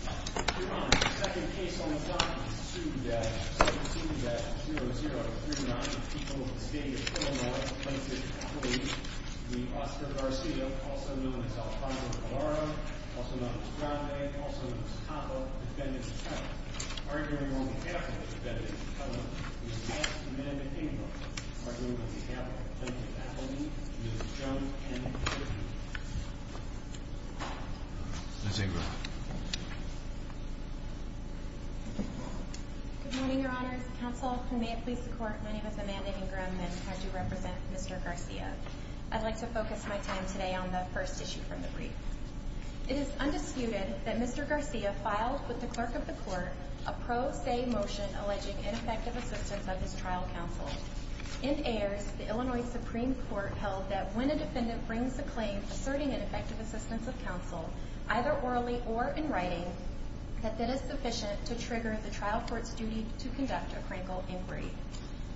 Second case on the block is a suit that 0-0-3-9, people of the state of Illinois plaintiff, Appellee v. Oscar Garcia, also known as Alfonso Galarra, also known as Grande, also known as Tapa, defendants of Tela, arguing on behalf of the defendants of Tela, the advanced humanitarian movement, arguing on behalf of the plaintiff, Appellee v. Jones N. Chivney. Ms. Ingram. Good morning, Your Honors. Counsel, may it please the Court, my name is Amanda Ingram and I do represent Mr. Garcia. I'd like to focus my time today on the first issue from the brief. It is undisputed that Mr. Garcia filed with the Clerk of the Court a pro se motion alleging ineffective assistance of his trial counsel. In Ayers, the Illinois Supreme Court held that when a defendant brings a claim asserting ineffective assistance of counsel, either orally or in writing, that that is sufficient to trigger the trial court's duty to conduct a critical inquiry.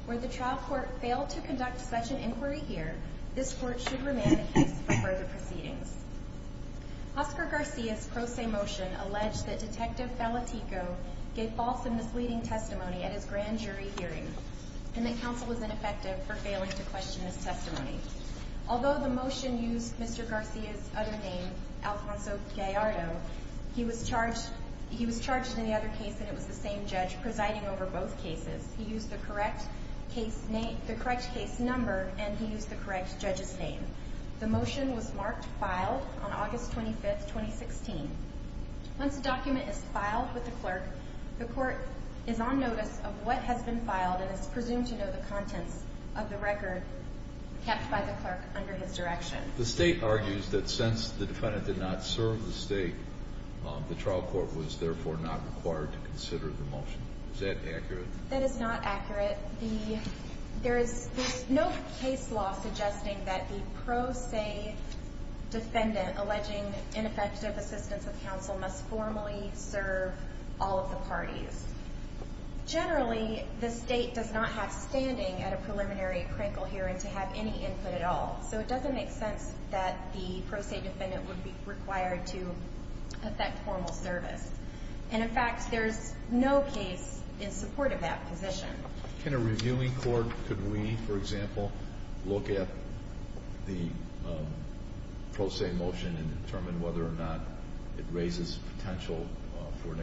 Where the trial court failed to conduct such an inquiry here, this Court should remain in case for further proceedings. Oscar Garcia's pro se motion alleged that Detective Bellatico gave false and misleading testimony at his grand jury hearing and that counsel was ineffective for failing to question his testimony. Although the motion used Mr. Garcia's other name, Alfonso Gallardo, he was charged in the other case that it was the same judge presiding over both cases. He used the correct case number and he used the correct judge's name. The motion was marked filed on August 25, 2016. Once a document is filed with the clerk, the court is on notice of what has been filed and is presumed to know the contents of the record kept by the clerk under his direction. The state argues that since the defendant did not serve the state, the trial court was therefore not required to consider the motion. Is that accurate? That is not accurate. There is no case law suggesting that the pro se defendant alleging ineffective assistance of counsel must formally serve all of the parties. Generally, the state does not have standing at a preliminary crinkle hearing to have any input at all, so it doesn't make sense that the pro se defendant would be required to effect formal service. In fact, there is no case in support of that position. Can a reviewing court, for example, look at the pro se motion and determine whether or not it raises potential for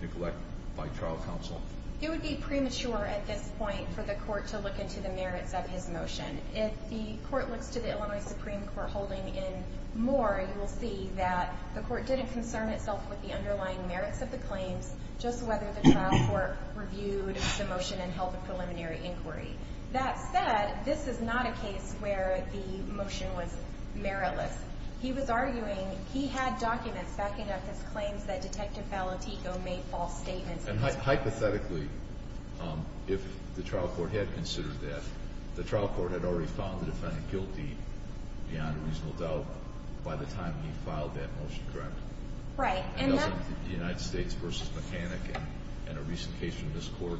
neglect by trial counsel? It would be premature at this point for the court to look into the merits of his motion. If the court looks to the Illinois Supreme Court holding in Moore, you will see that the court didn't concern itself with the underlying merits of the claims, just whether the trial court reviewed the motion and held a preliminary inquiry. That said, this is not a case where the motion was meritless. He was arguing he had documents backing up his claims that Detective Palatico made false statements. And hypothetically, if the trial court had considered that, the trial court had already found the defendant guilty beyond a reasonable doubt by the time he filed that motion, correct? Right. The United States v. Mechanic in a recent case from this court,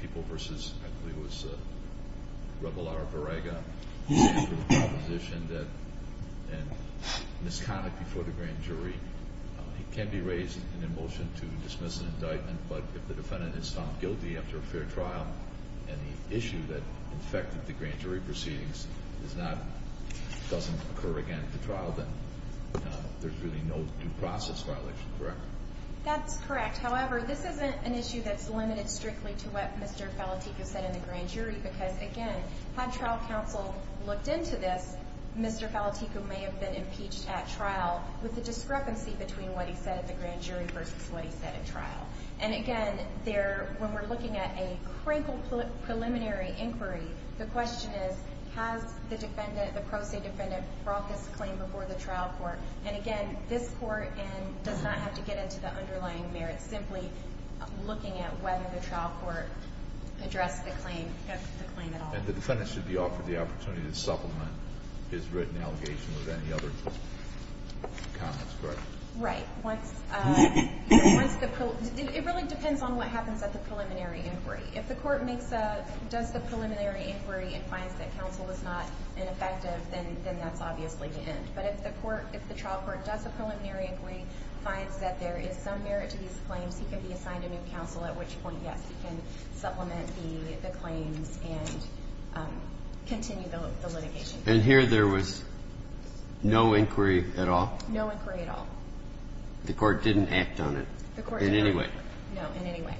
people v. I believe it was Rebola or Varega, the proposition that Ms. Connick before the grand jury, it can be raised in a motion to dismiss an indictment, but if the defendant is found guilty after a fair trial, and the issue that affected the grand jury proceedings is not, doesn't occur again at the trial, then there's really no due process violation, correct? That's correct. However, this isn't an issue that's limited strictly to what Mr. Palatico said in the grand jury, because again, had trial counsel looked into this, Mr. Palatico may have been impeached at trial with the discrepancy between what he said at the grand jury versus what he said at trial. And again, when we're looking at a crinkle preliminary inquiry, the question is, has the defendant, the pro se defendant, brought this claim before the trial court? And again, this court does not have to get into the underlying merits, simply looking at whether the trial court addressed the claim at all. And the defendant should be offered the opportunity to supplement his written allegation with any other comments, correct? Right. Once the, it really depends on what happens at the preliminary inquiry. If the court makes a, does the preliminary inquiry and finds that counsel was not ineffective, then that's obviously the end. But if the court, if the trial court does a preliminary inquiry, finds that there is some merit to these claims, he can be assigned a new counsel, at which point, yes, he can supplement the claims and continue the litigation. And here there was no inquiry at all? No inquiry at all. The court didn't act on it? The court didn't. In any way? No, in any way.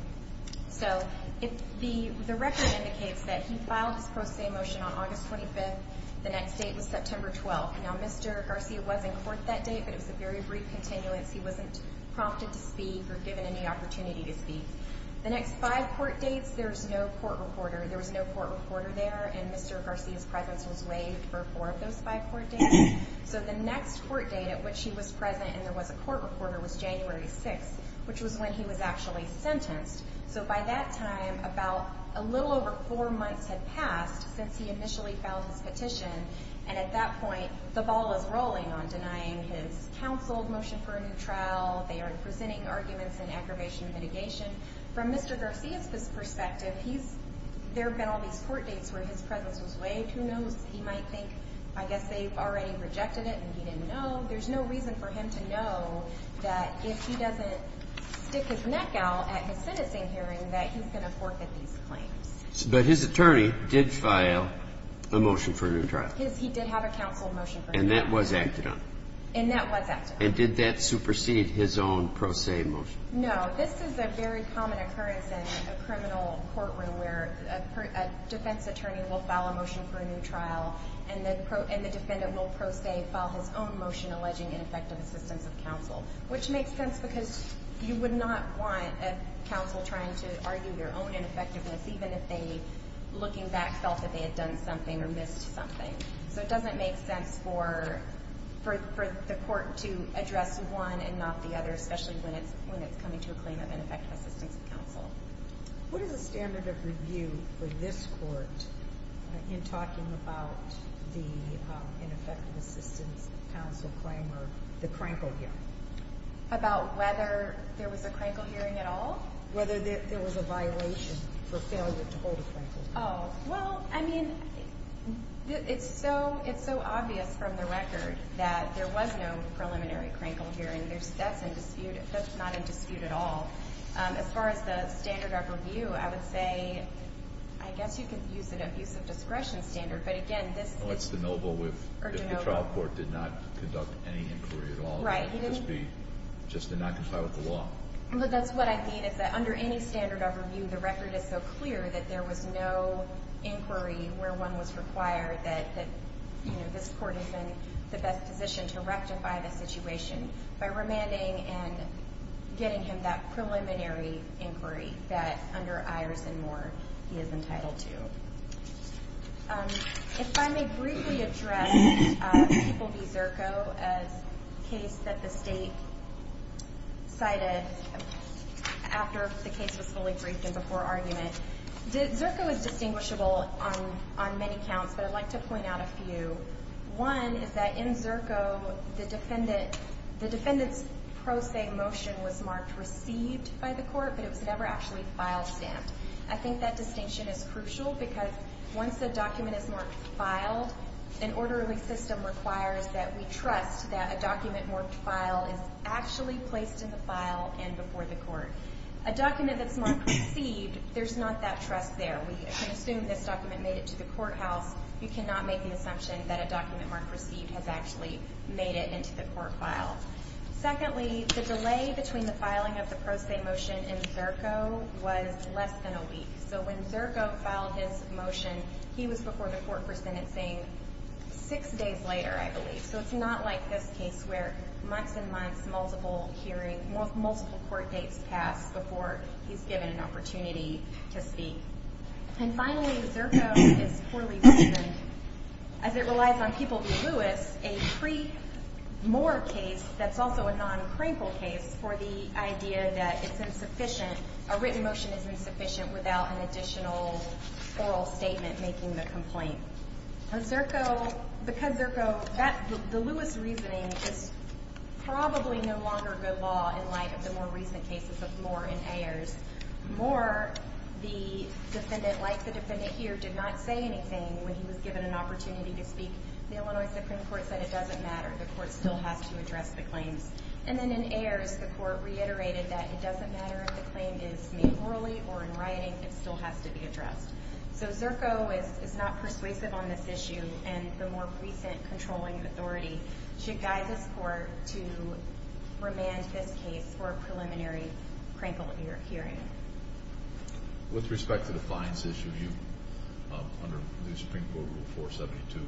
So, the record indicates that he filed his pro se motion on August 25th. The next date was September 12th. Now, Mr. Garcia was in court that day, but it was a very brief continuance. He wasn't prompted to speak or given any opportunity to speak. The next five court dates, there was no court reporter. There was no court reporter there, and Mr. Garcia's presence was waived for four of those five court dates. So, the next court date at which he was present and there was a court reporter was January 6th, which was when he was actually sentenced. So, by that time, about a little over four months had passed since he initially filed his petition, and at that point, the ball is rolling on denying his counseled motion for a new trial. They are presenting arguments in aggravation and mitigation. From Mr. Garcia's perspective, there have been all these court dates where his presence was waived. Who knows, he might think, I guess they've already rejected it and he didn't know. There's no reason for him to know that if he doesn't stick his neck out at his sentencing hearing that he's going to forfeit these claims. But his attorney did file a motion for a new trial. He did have a counseled motion for a new trial. And that was acted on. And that was acted on. And did that supersede his own pro se motion? No. This is a very common occurrence in a criminal courtroom where a defense attorney will file a motion for a new trial and the defendant will pro se file his own motion alleging ineffective assistance of counsel, which makes sense because you would not want a counsel trying to argue their own ineffectiveness, even if they, looking back, felt that they had done something or missed something. So it doesn't make sense for the court to address one and not the other, especially when it's coming to a claim of ineffective assistance of counsel. What is the standard of review for this court in talking about the ineffective assistance of counsel claim or the Krankel hearing? About whether there was a Krankel hearing at all? Whether there was a violation for failure to hold a Krankel hearing. Oh, well, I mean, it's so obvious from the record that there was no preliminary Krankel hearing. That's in dispute. That's not in dispute at all. As far as the standard of review, I would say, I guess you could use it of use of discretion standard. But, again, this is. Well, it's deniable if the trial court did not conduct any inquiry at all. Right. It would just be, just did not comply with the law. Well, that's what I mean is that under any standard of review, the record is so clear that there was no inquiry where one was required that, you know, this court is in the best position to rectify the situation by remanding and getting him that preliminary inquiry that, under Ayers and Moore, he is entitled to. If I may briefly address People v. Zirko, a case that the state cited after the case was fully briefed and before argument. Zirko is distinguishable on many counts, but I'd like to point out a few. One is that in Zirko, the defendant's pro se motion was marked received by the court, but it was never actually file stamped. I think that distinction is crucial because once a document is marked filed, an orderly system requires that we trust that a document marked file is actually placed in the file and before the court. A document that's marked received, there's not that trust there. We can assume this document made it to the courthouse. You cannot make an assumption that a document marked received has actually made it into the court file. Secondly, the delay between the filing of the pro se motion in Zirko was less than a week. So when Zirko filed his motion, he was before the court for sentencing six days later, I believe. So it's not like this case where months and months, multiple hearings, multiple court dates pass before he's given an opportunity to speak. And finally, Zirko is poorly reasoned as it relies on People v. Lewis, a pre-Moore case that's also a non-crinkle case for the idea that it's insufficient, a written motion is insufficient without an additional oral statement making the complaint. Zirko, because Zirko, the Lewis reasoning is probably no longer good law in light of the more recent cases of Moore and Ayers. Moore, the defendant, like the defendant here, did not say anything when he was given an opportunity to speak. The Illinois Supreme Court said it doesn't matter. The court still has to address the claims. And then in Ayers, the court reiterated that it doesn't matter if the claim is made orally or in writing. It still has to be addressed. So Zirko is not persuasive on this issue. And the more recent controlling authority should guide this court to remand this case for a preliminary crinkle hearing. With respect to the fines issue, under the Supreme Court Rule 472,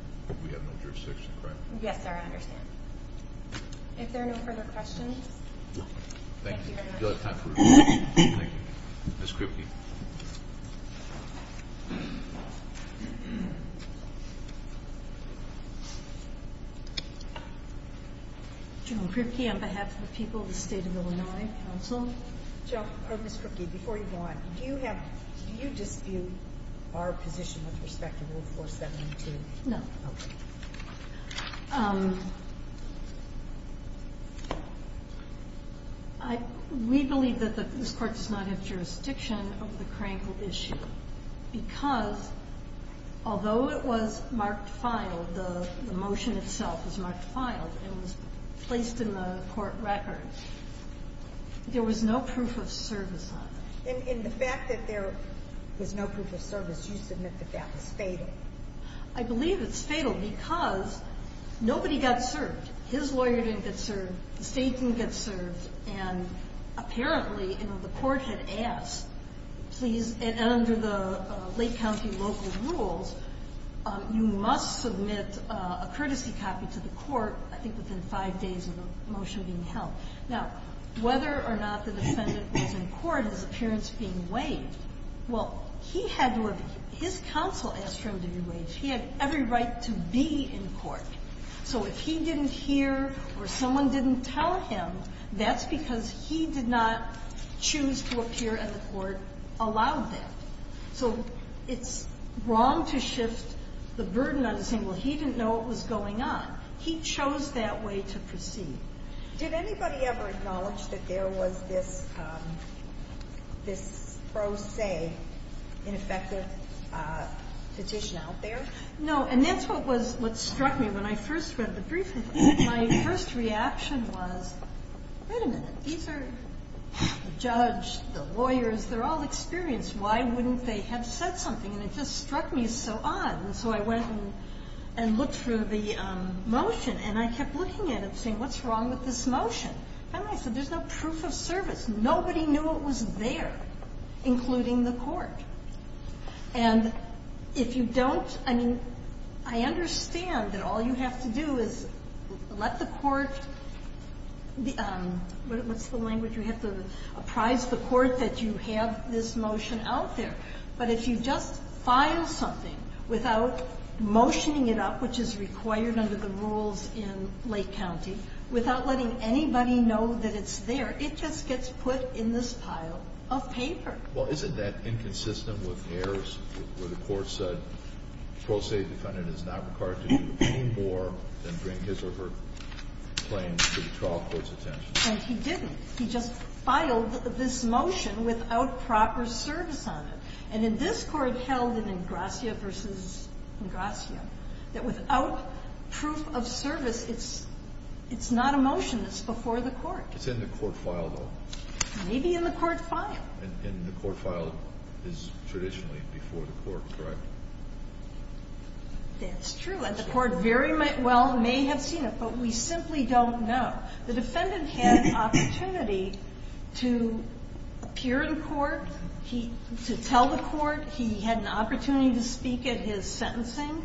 we have no jurisdiction, correct? Yes, sir, I understand. If there are no further questions, thank you very much. Thank you. Ms. Kripke. General Kripke, on behalf of the people of the State of Illinois Council. Ms. Kripke, before you go on, do you dispute our position with respect to Rule 472? No. Okay. We believe that this Court does not have jurisdiction over the crinkle issue because, although it was marked filed, the motion itself was marked filed and was placed in the court record, there was no proof of service on it. And the fact that there was no proof of service, you submit that that was fatal? I believe it's fatal because nobody got served. His lawyer didn't get served. The State didn't get served. And apparently, you know, the court had asked, please, and under the Lake County local rules, you must submit a courtesy copy to the court, I think within five days of the motion being held. Now, whether or not the defendant was in court, his appearance being waived, well, he had to have been. His counsel asked for him to be waived. He had every right to be in court. So if he didn't hear or someone didn't tell him, that's because he did not choose to appear at the court, allowed that. So it's wrong to shift the burden onto saying, well, he didn't know what was going on. He chose that way to proceed. Did anybody ever acknowledge that there was this pro se ineffective petition out there? No. And that's what struck me when I first read the brief. My first reaction was, wait a minute. These are the judge, the lawyers. They're all experienced. Why wouldn't they have said something? And it just struck me so odd. And so I went and looked through the motion, and I kept looking at it, saying, what's wrong with this motion? And I said, there's no proof of service. Nobody knew it was there, including the court. And if you don't – I mean, I understand that all you have to do is let the court – what's the language you have to – apprise the court that you have this motion out there. But if you just file something without motioning it up, which is required under the rules in Lake County, without letting anybody know that it's there, it just gets put in this pile of paper. Well, isn't that inconsistent with errors where the court said pro se defendant is not required to do any more than bring his or her claim to the trial court's attention? And he didn't. He just filed this motion without proper service on it. And in this court held in Ingrassia v. Ingrassia, that without proof of service, it's not a motion that's before the court. It's in the court file, though. Maybe in the court file. And the court file is traditionally before the court, correct? That's true. And the court very well may have seen it, but we simply don't know. The defendant had an opportunity to appear in court, to tell the court he had an opportunity to speak at his sentencing.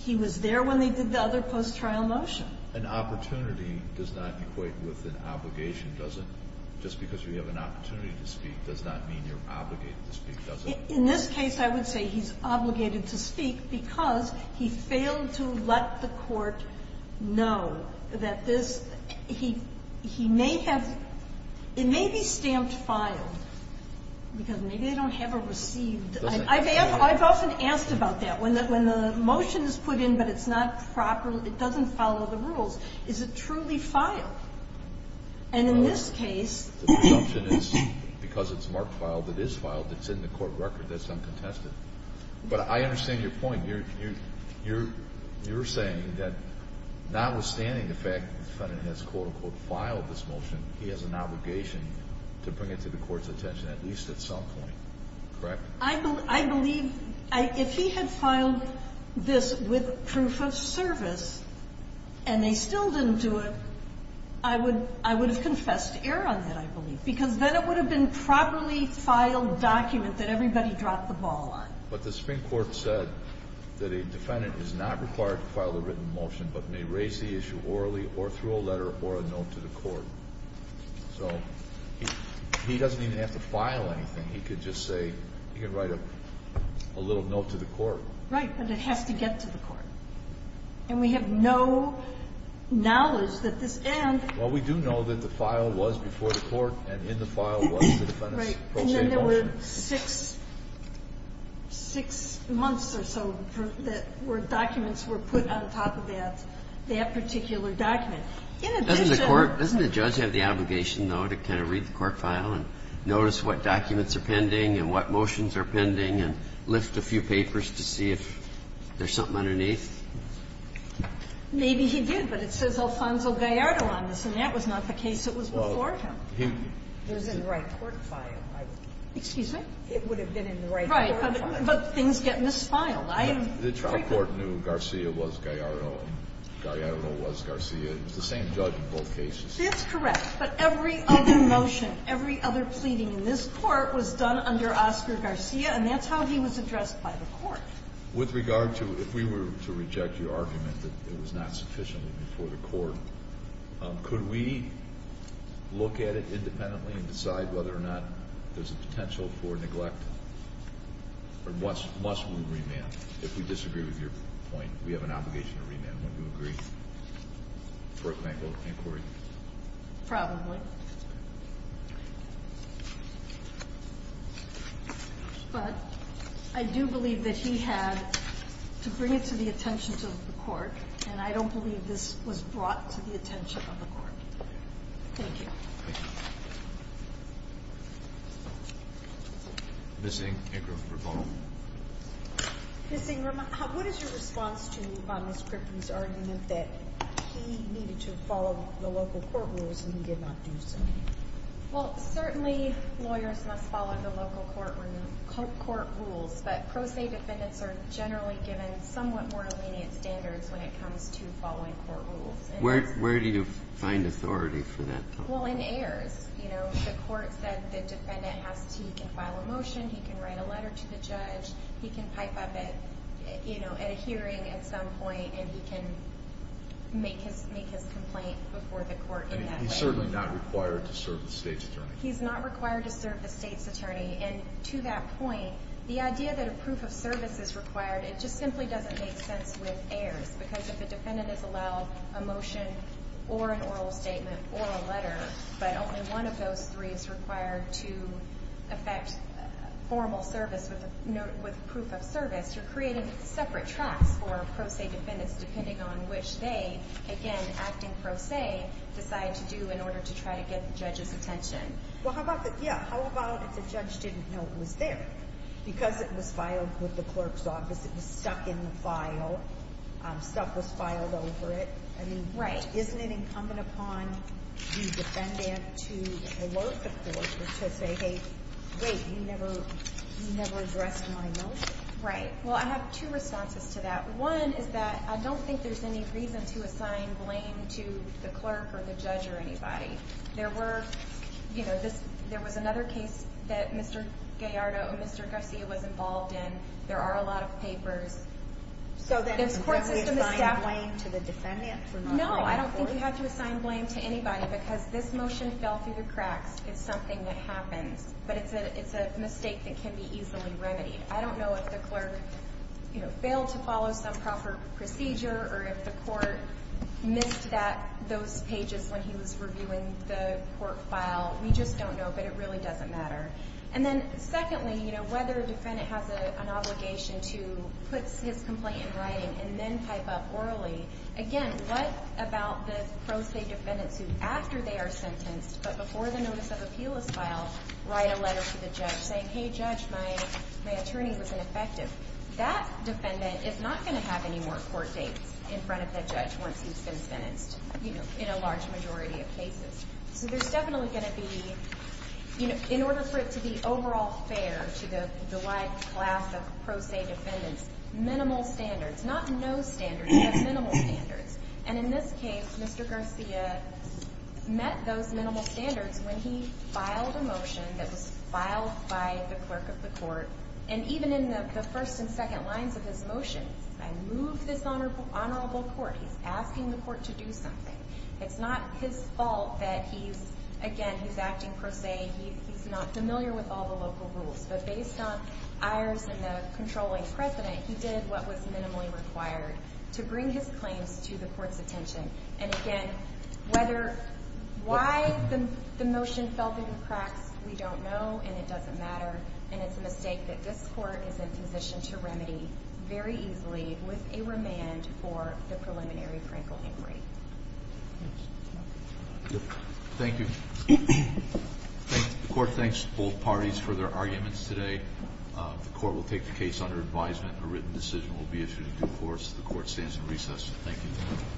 He was there when they did the other post-trial motion. An opportunity does not equate with an obligation, does it? Just because you have an opportunity to speak does not mean you're obligated to speak, does it? In this case, I would say he's obligated to speak because he failed to let the court know that this, he may have, it may be stamped filed. Because maybe they don't have a received. I've often asked about that. When the motion is put in, but it's not properly, it doesn't follow the rules. Is it truly filed? And in this case. The presumption is because it's marked filed, it is filed. It's in the court record. That's uncontested. But I understand your point. You're saying that notwithstanding the fact that the defendant has, quote, unquote, filed this motion, he has an obligation to bring it to the court's attention at least at some point, correct? I believe, if he had filed this with proof of service, and they still didn't do it, I would have confessed to err on that, I believe. Because then it would have been a properly filed document that everybody dropped the ball on. But the Supreme Court said that a defendant is not required to file a written motion, but may raise the issue orally or through a letter or a note to the court. So he doesn't even have to file anything. He could just say, he could write a little note to the court. Right, but it has to get to the court. And we have no knowledge that this and. Well, we do know that the file was before the court and in the file was the defendant's pro se motion. And there were six months or so that documents were put on top of that particular document. In addition. Doesn't the court, doesn't the judge have the obligation, though, to kind of read the court file and notice what documents are pending and what motions are pending and lift a few papers to see if there's something underneath? Maybe he did, but it says Alfonso Gallardo on this, and that was not the case. It was before him. It was in the right court file. Excuse me? It would have been in the right court file. Right, but things get misfiled. The trial court knew Garcia was Gallardo, and Gallardo was Garcia. It was the same judge in both cases. That's correct. But every other motion, every other pleading in this court was done under Oscar Garcia, and that's how he was addressed by the court. With regard to if we were to reject your argument that it was not sufficiently for the court, could we look at it independently and decide whether or not there's a potential for neglect? Or must we remand? If we disagree with your point, we have an obligation to remand. Wouldn't you agree? Correct me if I'm wrong. Thank you. Probably. But I do believe that he had to bring it to the attention of the court, and I don't believe this was brought to the attention of the court. Thank you. Thank you. Ms. Ingram, your phone. Ms. Ingram, what is your response to Ms. Griffin's argument that he needed to follow the local court rules and he did not do so? Well, certainly lawyers must follow the local court rules, but pro se defendants are generally given somewhat more lenient standards when it comes to following court rules. Where do you find authority for that? Well, in heirs. The court said the defendant can file a motion, he can write a letter to the judge, he can pipe up at a hearing at some point, and he can make his complaint before the court in that way. He's certainly not required to serve the state's attorney. He's not required to serve the state's attorney. And to that point, the idea that a proof of service is required, it just simply doesn't make sense with heirs. Because if a defendant is allowed a motion or an oral statement or a letter, but only one of those three is required to effect formal service with proof of service, you're creating separate tracks for pro se defendants depending on which they, again, acting pro se, decide to do in order to try to get the judge's attention. Well, how about if the judge didn't know it was there? Because it was filed with the clerk's office, it was stuck in the file, stuff was filed over it. I mean, isn't it incumbent upon the defendant to alert the court to say, hey, wait, you never addressed my motion? Right. Well, I have two responses to that. One is that I don't think there's any reason to assign blame to the clerk or the judge or anybody. There were, you know, there was another case that Mr. Gallardo or Mr. Garcia was involved in. There are a lot of papers. So then you don't assign blame to the defendant? No, I don't think you have to assign blame to anybody because this motion fell through the cracks. It's something that happens. But it's a mistake that can be easily remedied. I don't know if the clerk, you know, failed to follow some proper procedure or if the court missed those pages when he was reviewing the court file. We just don't know. But it really doesn't matter. And then secondly, you know, whether a defendant has an obligation to put his complaint in writing and then type up orally, again, what about the pro se defendants who, after they are sentenced, but before the notice of appeal is filed, write a letter to the judge saying, hey, judge, my attorney was ineffective. That defendant is not going to have any more court dates in front of that judge once he's been sentenced, you know, in a large majority of cases. So there's definitely going to be, you know, in order for it to be overall fair to the wide class of pro se defendants, minimal standards, not no standards, but minimal standards. And in this case, Mr. Garcia met those minimal standards when he filed a motion that was filed by the clerk of the court. And even in the first and second lines of his motion, I moved this honorable court. He's asking the court to do something. It's not his fault that he's, again, he's acting pro se. He's not familiar with all the local rules. But based on Ayers and the controlling precedent, he did what was minimally required to bring his claims to the court's attention. And, again, why the motion fell through the cracks, we don't know. And it doesn't matter. And it's a mistake that this court is in position to remedy very easily with a remand for the preliminary Franklin Inquiry. Thank you. The court thanks both parties for their arguments today. The court will take the case under advisement. A written decision will be issued in due course. The court stands in recess. Thank you.